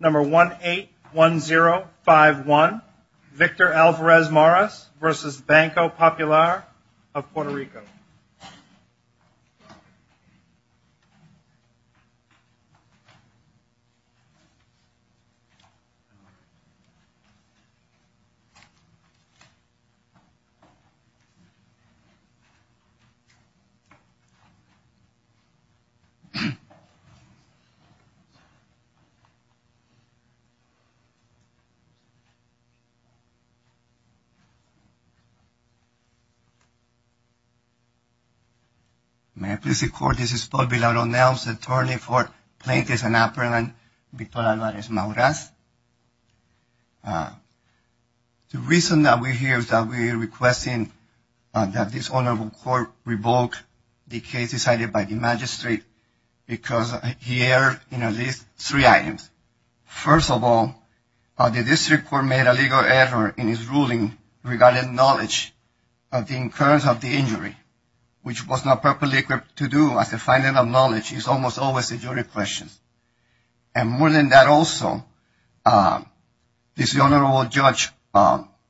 181051 Victor Alvarez-Mauras v. Banco Popular of Puerto Rico May I please the court, this is Paul Villaronelles, attorney for Plaintiffs and Apparel and Victor Alvarez-Mauras. The reason that we're here is that we're requesting that this honorable court revoke the case decided by the magistrate because he erred in at least three items. First of all, the district court made a legal error in his ruling regarding knowledge of the occurrence of the injury, which was not properly equipped to do as the finding of knowledge is almost always a jury question. And more than that also, this honorable judge,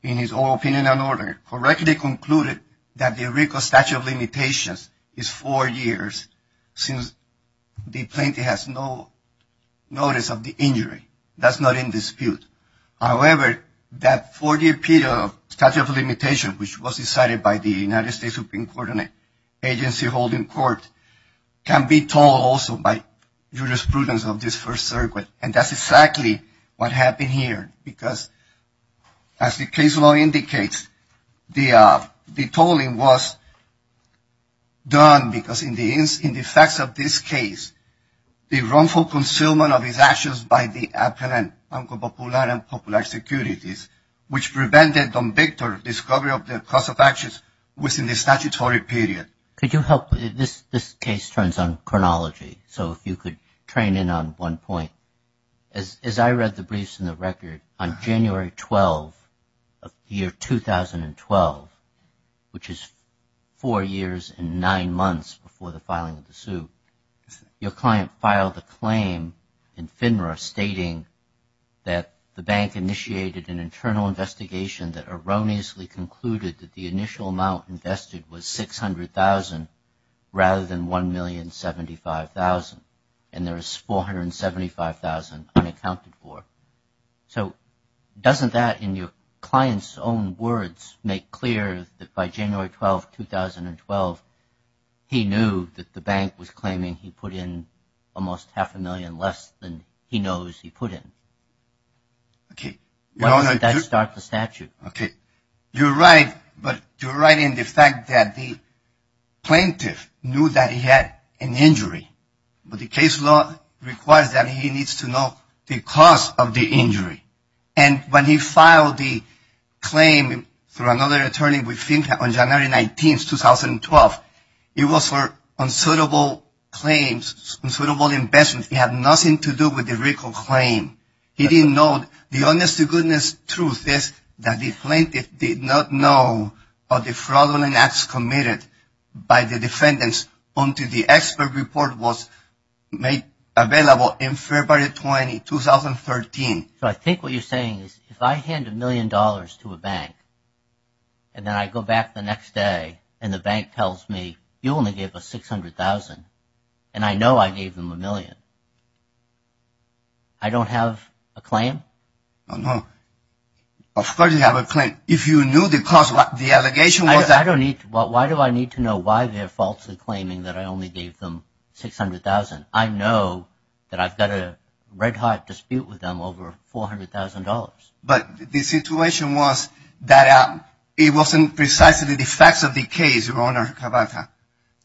in his own opinion and order, correctly concluded that the Rico statute of limitations is four years since the plaintiff has no notice of the injury. That's not in dispute. However, that four-year statute of limitation, which was decided by the United States Supreme Court and agency holding court, can be told also by jurisprudence of this first circuit. And that's exactly what happened here because as the case law indicates, the tolling was done because in the facts of this case, the wrongful concealment of his actions by the appellant Banco Popular and Popular Securities, which prevented on Victor discovery of the cause of actions within the statutory period. This case turns on chronology, so if you could train in on one point. As I read the briefs in the record, on January 12 of year 2012, which is four years and nine months before the filing of the suit, your client filed a claim in FINRA stating that the bank initiated an internal investigation that erroneously concluded that the initial amount invested was $600,000 rather than $1,075,000. And there is $475,000 unaccounted for. So doesn't that, in your client's own words, make clear that by January 12, 2012, he knew that the bank was claiming he put in almost half a million less than he knows he put in? Okay. Why did that start the statute? Okay. You're right, but you're right in the fact that the plaintiff knew that he had an injury. But the case law requires that he needs to know the cause of the injury. And when he filed the claim through another attorney with FINRA on January 19, 2012, it was for unsuitable claims, unsuitable investments. It had nothing to do with the recall claim. He didn't know. The honest-to-goodness truth is that the plaintiff did not know of the fraudulent acts committed by the defendants until the expert report was made available in February 20, 2013. So I think what you're saying is if I hand a million dollars to a bank and then I go back the next day and the bank tells me, you only gave us $600,000, and I know I gave them a million, I don't have a claim? No. Of course you have a claim. If you knew the cause, the allegation was that – I don't need – why do I need to know why they're falsely claiming that I only gave them $600,000? I know that I've got a red-hot dispute with them over $400,000. But the situation was that it wasn't precisely the facts of the case, Your Honor Cavazza.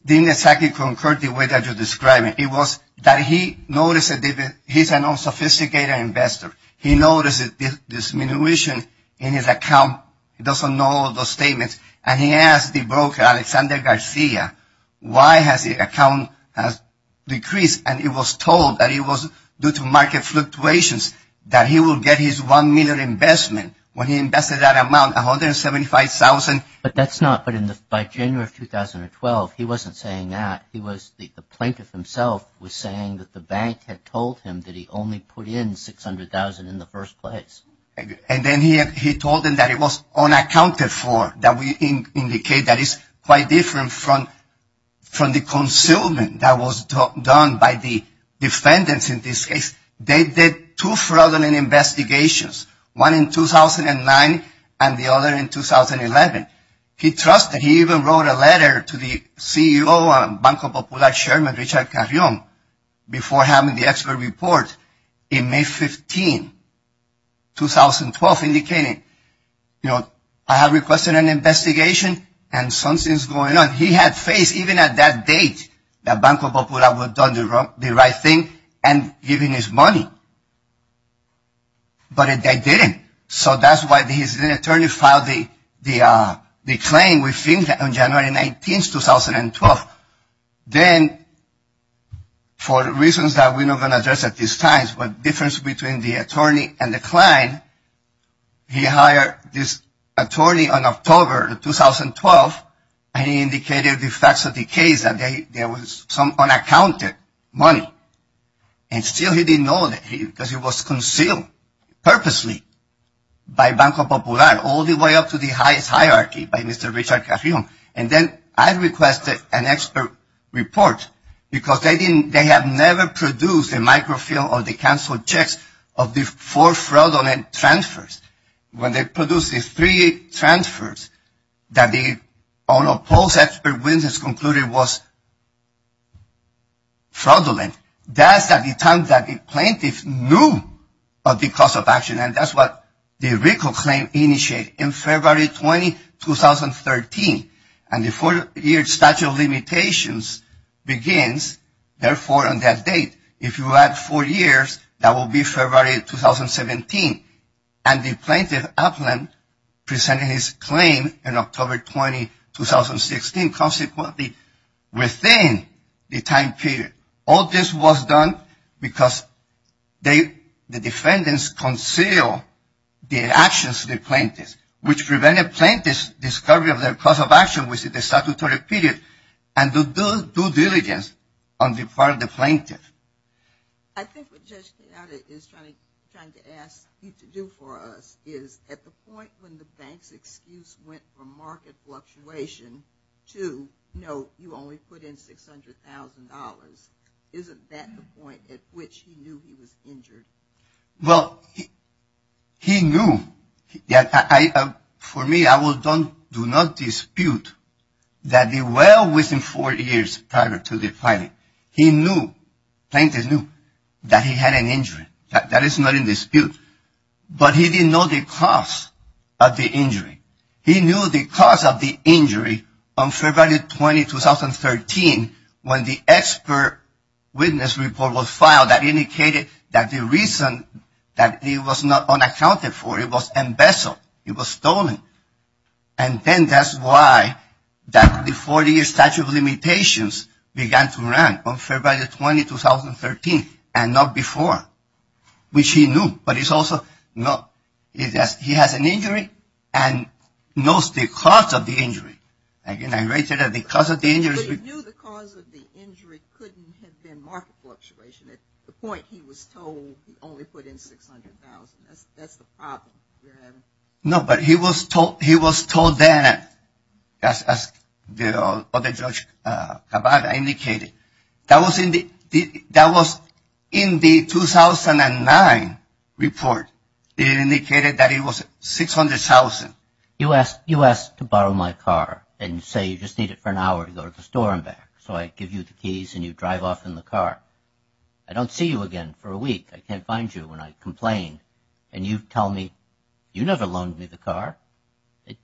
It didn't exactly concur the way that you're describing. It was that he noticed that he's a non-sophisticated investor. He noticed a disminution in his account. He doesn't know all of those statements, and he asked the broker, Alexander Garcia, why has the account decreased? And he was told that it was due to market fluctuations, that he will get his $1 million investment. When he invested that amount, $175,000 – But that's not – by January of 2012, he wasn't saying that. He was – the plaintiff himself was saying that the bank had told him that he only put in $600,000 in the first place. And then he told him that it was unaccounted for, that we indicate that it's quite different from the concealment that was done by the defendants in this case. They did two fraudulent investigations, one in 2009 and the other in 2011. And he trusted. He even wrote a letter to the CEO and Banco Popular chairman, Richard Carrion, before having the expert report in May 15, 2012, indicating, you know, I have requested an investigation and something's going on. He had faith, even at that date, that Banco Popular would have done the right thing and given his money. But they didn't. So that's why the assistant attorney filed the claim, we think, on January 19, 2012. Then, for reasons that we're not going to address at this time, the difference between the attorney and the client, he hired this attorney in October of 2012 and he indicated the facts of the case that there was some unaccounted money. And still he didn't know that because it was concealed purposely by Banco Popular, all the way up to the highest hierarchy by Mr. Richard Carrion. And then I requested an expert report because they have never produced a microfilm or the cancelled checks of the four fraudulent transfers. When they produced the three transfers that the unopposed expert witnesses concluded was fraudulent, that's at the time that the plaintiff knew of the cause of action. And that's what the RICO claim initiated in February 20, 2013. And the four-year statute of limitations begins, therefore, on that date. If you add four years, that will be February 2017. And the plaintiff, Aplin, presented his claim in October 20, 2016, consequently within the time period. All this was done because the defendants concealed the actions of the plaintiffs, which prevented plaintiffs' discovery of their cause of action within the statutory period and the due diligence on the part of the plaintiff. I think what Judge Quezada is trying to ask you to do for us is, at the point when the bank's excuse went from market fluctuation to, no, you only put in $600,000, isn't that the point at which he knew he was injured? Well, he knew. For me, I will do not dispute that well within four years prior to the filing, he knew, the plaintiff knew that he had an injury. That is not in dispute. But he didn't know the cause of the injury. He knew the cause of the injury on February 20, 2013, when the expert witness report was filed that indicated that the reason that he was not unaccounted for, it was embezzled, it was stolen. And then that's why the 40-year statute of limitations began to rank on February 20, 2013, and not before, which he knew. But it's also, no, he has an injury and knows the cause of the injury. Again, I raised it at the cause of the injury. But he knew the cause of the injury couldn't have been market fluctuation, at the point he was told he only put in $600,000. That's the problem you're having. No, but he was told that, as the other judge Kavada indicated. That was in the 2009 report. It indicated that it was $600,000. You asked to borrow my car and say you just need it for an hour to go to the store and back. So I give you the keys and you drive off in the car. I don't see you again for a week. I can't find you and I complain. And you tell me, you never loaned me the car. It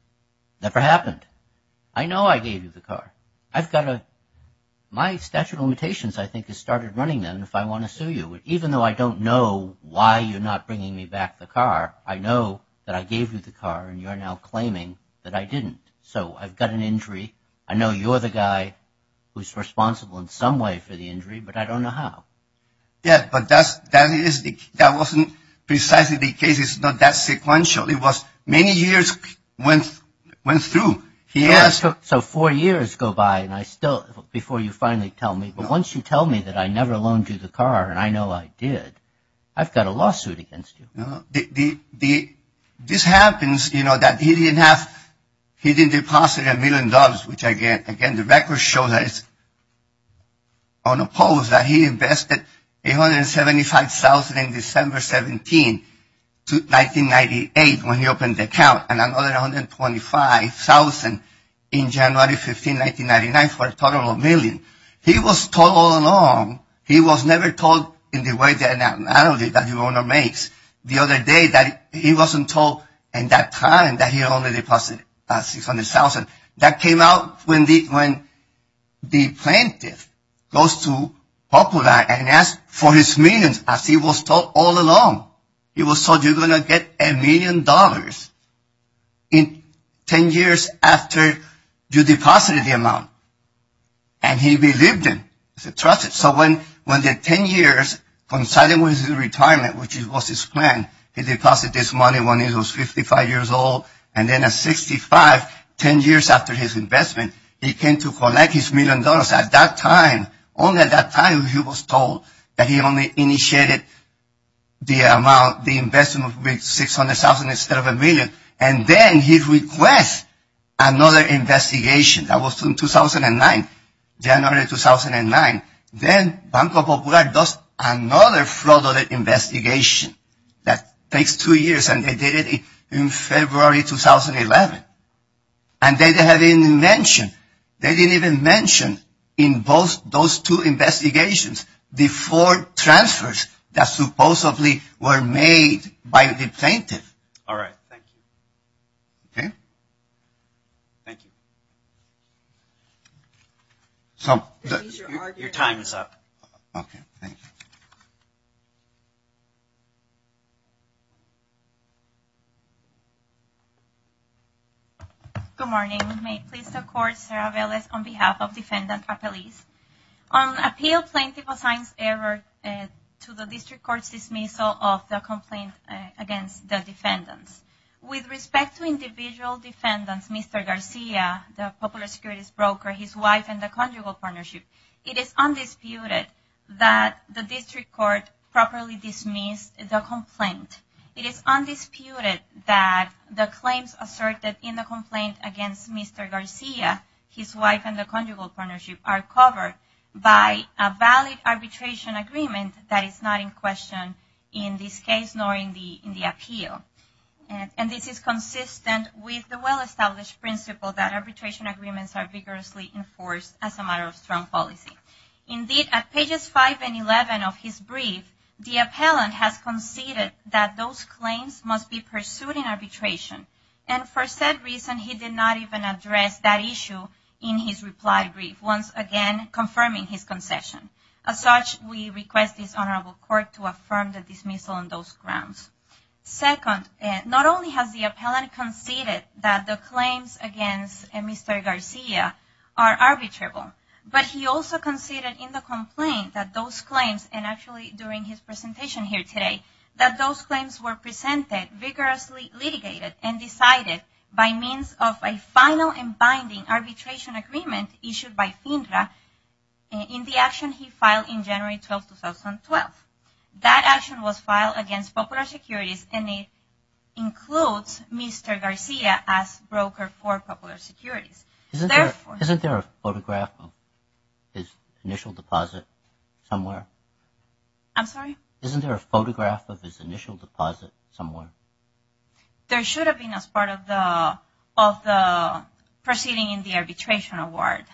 never happened. I know I gave you the car. I've got a, my statute of limitations, I think, has started running then if I want to sue you. Even though I don't know why you're not bringing me back the car, I know that I gave you the car and you're now claiming that I didn't. So I've got an injury. I know you're the guy who's responsible in some way for the injury, but I don't know how. Yeah, but that wasn't precisely the case. It's not that sequential. It was many years went through. So four years go by and I still, before you finally tell me, but once you tell me that I never loaned you the car and I know I did, I've got a lawsuit against you. This happens, you know, that he didn't have, he didn't deposit a million dollars, which again the records show that it's unopposed, that he invested $875,000 in December 17, 1998 when he opened the account, and another $125,000 in January 15, 1999 for a total of a million. He was told all along, he was never told in the way that an analogy that the owner makes, the other day that he wasn't told in that time that he only deposited $600,000. That came out when the plaintiff goes to Popola and asks for his millions, as he was told all along. He was told you're going to get a million dollars in 10 years after you deposited the amount, and he believed him. He trusted. So when the 10 years coincided with his retirement, which was his plan, he deposited this money when he was 55 years old, and then at 65, 10 years after his investment, he came to collect his million dollars. At that time, only at that time he was told that he only initiated the amount, the investment of $600,000 instead of a million, and then he requests another investigation. That was in 2009, January 2009. Then Banco Popular does another fraudulent investigation that takes two years, and they did it in February 2011, and they didn't even mention in those two investigations the four transfers that supposedly were made by the plaintiff. All right. Thank you. Okay. Thank you. Your time is up. Okay. Thank you. Good morning. May it please the Court, Sarah Velez, on behalf of Defendant Appellees. On appeal, plaintiff assigns error to the district court's dismissal of the complaint against the defendants. With respect to individual defendants, Mr. Garcia, the popular securities broker, his wife, and the conjugal partnership, it is undisputed that the district court properly dismissed the complaint. It is undisputed that the claims asserted in the complaint against Mr. Garcia, his wife and the conjugal partnership, are covered by a valid arbitration agreement that is not in question in this case nor in the appeal. And this is consistent with the well-established principle that arbitration agreements are vigorously enforced as a matter of strong policy. Indeed, at pages 5 and 11 of his brief, the appellant has conceded that those claims must be pursued in arbitration, and for said reason, he did not even address that issue in his reply brief, once again confirming his concession. As such, we request this honorable court to affirm the dismissal on those grounds. Second, not only has the appellant conceded that the claims against Mr. Garcia are arbitrable, but he also conceded in the complaint that those claims, and actually during his presentation here today, that those claims were presented, vigorously litigated, and decided by means of a final and binding arbitration agreement issued by FINRA in the action he filed in January 12, 2012. That action was filed against Popular Securities, and it includes Mr. Garcia as broker for Popular Securities. Isn't there a photograph of his initial deposit somewhere? I'm sorry? Isn't there a photograph of his initial deposit somewhere? There should have been as part of the proceeding in the arbitration award.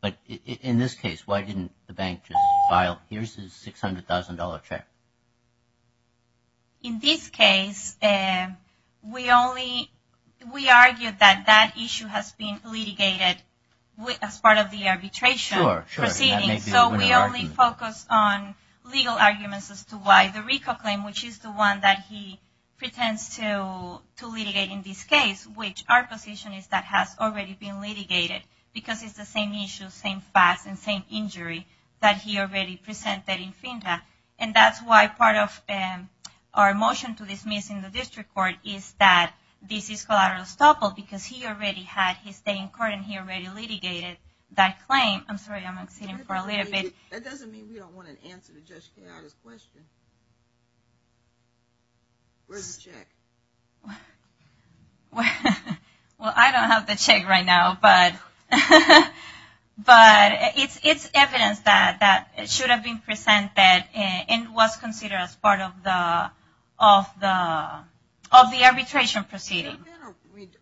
But in this case, why didn't the bank just file, here's his $600,000 check? In this case, we argued that that issue has been litigated as part of the arbitration proceeding, so we only focused on legal arguments as to why the RICO claim, which is the one that he pretends to litigate in this case, which our position is that has already been litigated because it's the same issue, same facts, and same injury that he already presented in FINRA. And that's why part of our motion to dismiss in the district court is that this is collateral estoppel because he already had his day in court and he already litigated that claim. I'm sorry, I'm exceeding for a little bit. That doesn't mean we don't want an answer to Judge Quijada's question. Where's the check? Well, I don't have the check right now, but it's evidence that should have been presented and was considered as part of the arbitration proceeding.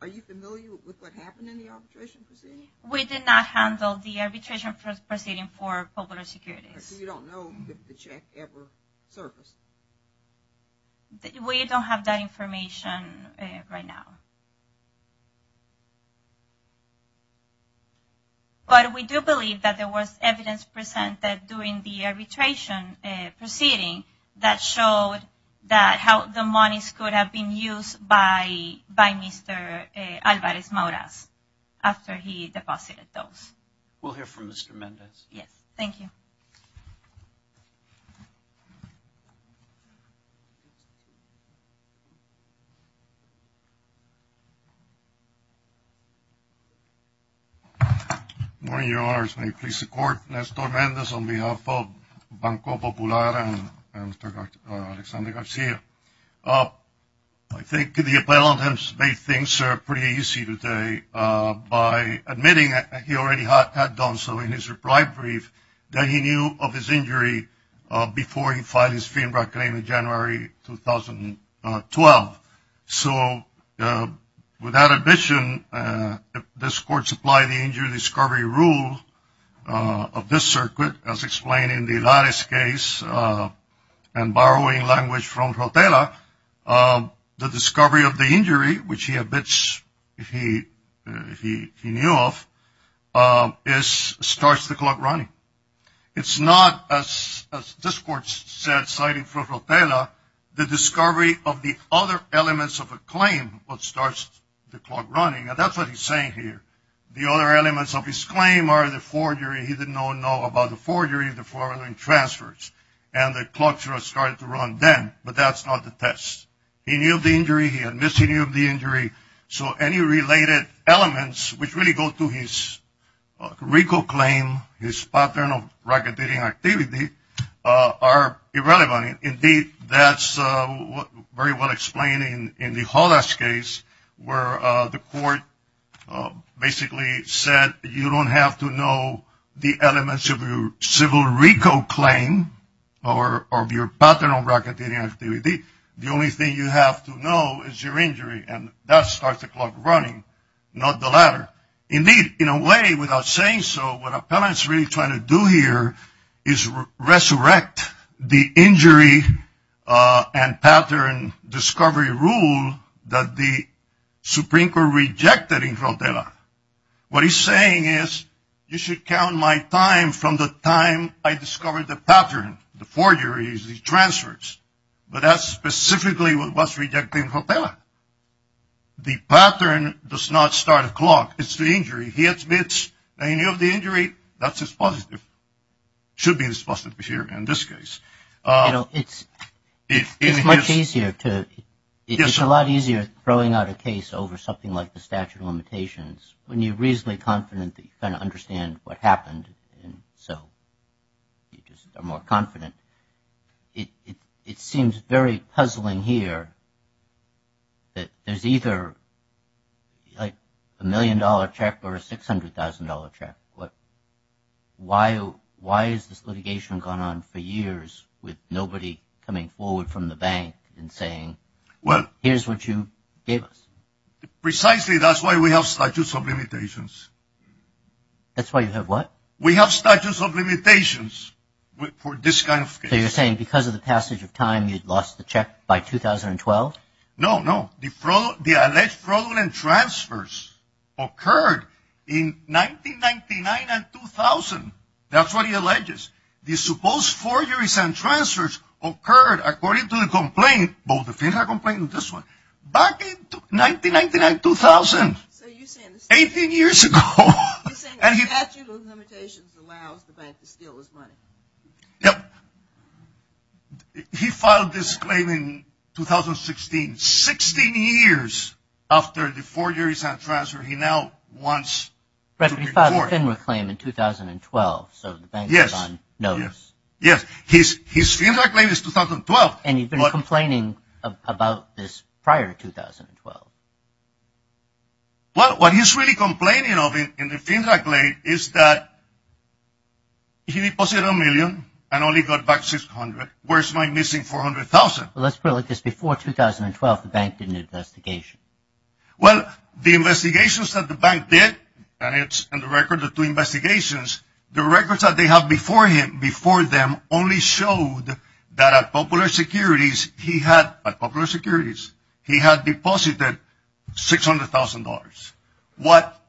Are you familiar with what happened in the arbitration proceeding? We did not handle the arbitration proceeding for public securities. So you don't know if the check ever surfaced? We don't have that information right now. But we do believe that there was evidence presented during the arbitration proceeding that showed that how the monies could have been used by Mr. Alvarez-Mauraz after he deposited those. We'll hear from Mr. Mendez. Yes. Thank you. Good morning, Your Honors. May it please the Court, Nestor Mendez on behalf of Banco Popular and Mr. Alexander Garcia. I think the appellant has made things pretty easy today by admitting that he already had done so in his reply brief, that he knew of his injury before he filed his FIMRA claim in January 2012. So without admission, if this Court supply the injury discovery rule of this circuit, as explained in the Laris case and borrowing language from Rotela, the discovery of the injury, which he admits he knew of, starts the clock running. It's not, as this Court said, citing from Rotela, the discovery of the other elements of a claim, what starts the clock running, and that's what he's saying here. The other elements of his claim are the forgery. He didn't know about the forgery, the fraudulent transfers, and the clock started to run then. But that's not the test. He knew of the injury. He admits he knew of the injury. So any related elements, which really go to his RICO claim, his pattern of racketeering activity, are irrelevant. Indeed, that's very well explained in the Holas case, where the Court basically said, you don't have to know the elements of your civil RICO claim or your pattern of racketeering activity. The only thing you have to know is your injury, and that starts the clock running, not the latter. Indeed, in a way, without saying so, what Appellant's really trying to do here is resurrect the injury and pattern discovery rule that the Supreme Court rejected in Rotela. What he's saying is, you should count my time from the time I discovered the pattern, the forgeries, the transfers. But that's specifically what was rejected in Rotela. The pattern does not start a clock. It's the injury. He admits that he knew of the injury. That's his positive. It should be his positive here in this case. You know, it's much easier to – it's a lot easier throwing out a case over something like the statute of limitations when you're reasonably confident that you kind of understand what happened, and so you just are more confident. It seems very puzzling here that there's either, like, a million-dollar check or a $600,000 check. Why has this litigation gone on for years with nobody coming forward from the bank and saying, here's what you gave us? Precisely, that's why we have statute of limitations. That's why you have what? We have statute of limitations for this kind of case. So you're saying because of the passage of time, you'd lost the check by 2012? No, no. The alleged fraudulent transfers occurred in 1999 and 2000. That's what he alleges. The supposed forgeries and transfers occurred, according to the complaint, both the Finja complaint and this one, back in 1999-2000, 18 years ago. So you're saying the statute of limitations allows the bank to steal his money? Yep. He filed this claim in 2016, 16 years after the forgeries and transfers. He now wants to report. But he filed the Finja claim in 2012, so the bank is on notice. Yes, yes. His Finja claim is 2012. And you've been complaining about this prior to 2012. Well, what he's really complaining of in the Finja claim is that he deposited a million and only got back $600,000. Where's my missing $400,000? Well, let's put it like this. Before 2012, the bank did an investigation. Well, the investigations that the bank did, and it's in the record of two investigations, the records that they have before them only showed that at Popular Securities he had deposited $600,000. What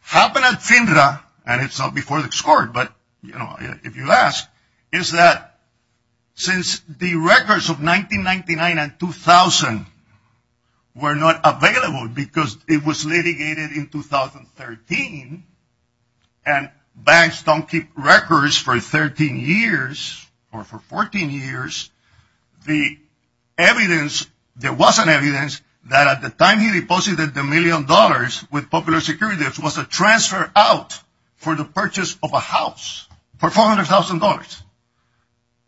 happened at Finja, and it's not before the court, but if you ask, is that since the records of 1999 and 2000 were not available because it was litigated in 2013, and banks don't keep records for 13 years or for 14 years, the evidence that wasn't evidence that at the time he deposited the million dollars with Popular Securities was a transfer out for the purchase of a house for $400,000.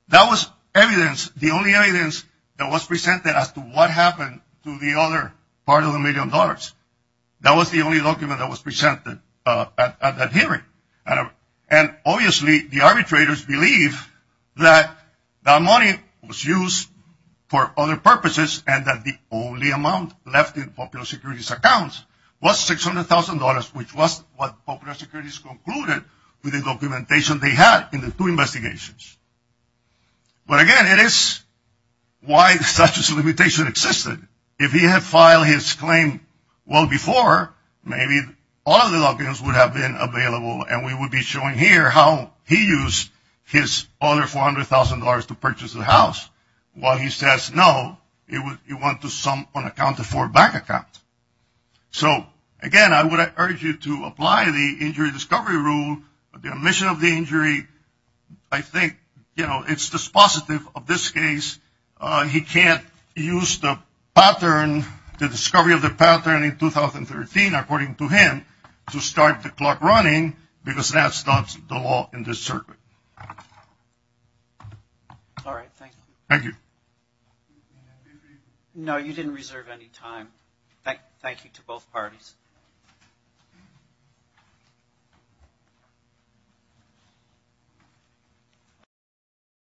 That was evidence, the only evidence that was presented as to what happened to the other part of the million dollars. That was the only document that was presented at that hearing, and obviously the arbitrators believe that that money was used for other purposes and that the only amount left in Popular Securities' accounts was $600,000, which was what Popular Securities concluded with the documentation they had in the two investigations. But again, it is why such a limitation existed. If he had filed his claim well before, maybe all of the documents would have been available and we would be showing here how he used his other $400,000 to purchase a house, while he says no, he went to some unaccounted for bank account. So again, I would urge you to apply the injury discovery rule, the omission of the injury. I think, you know, it's dispositive of this case. He can't use the discovery of the pattern in 2013, according to him, to start the clock running because that's not the law in this circuit. All right, thank you. Thank you. No, you didn't reserve any time. Thank you to both parties.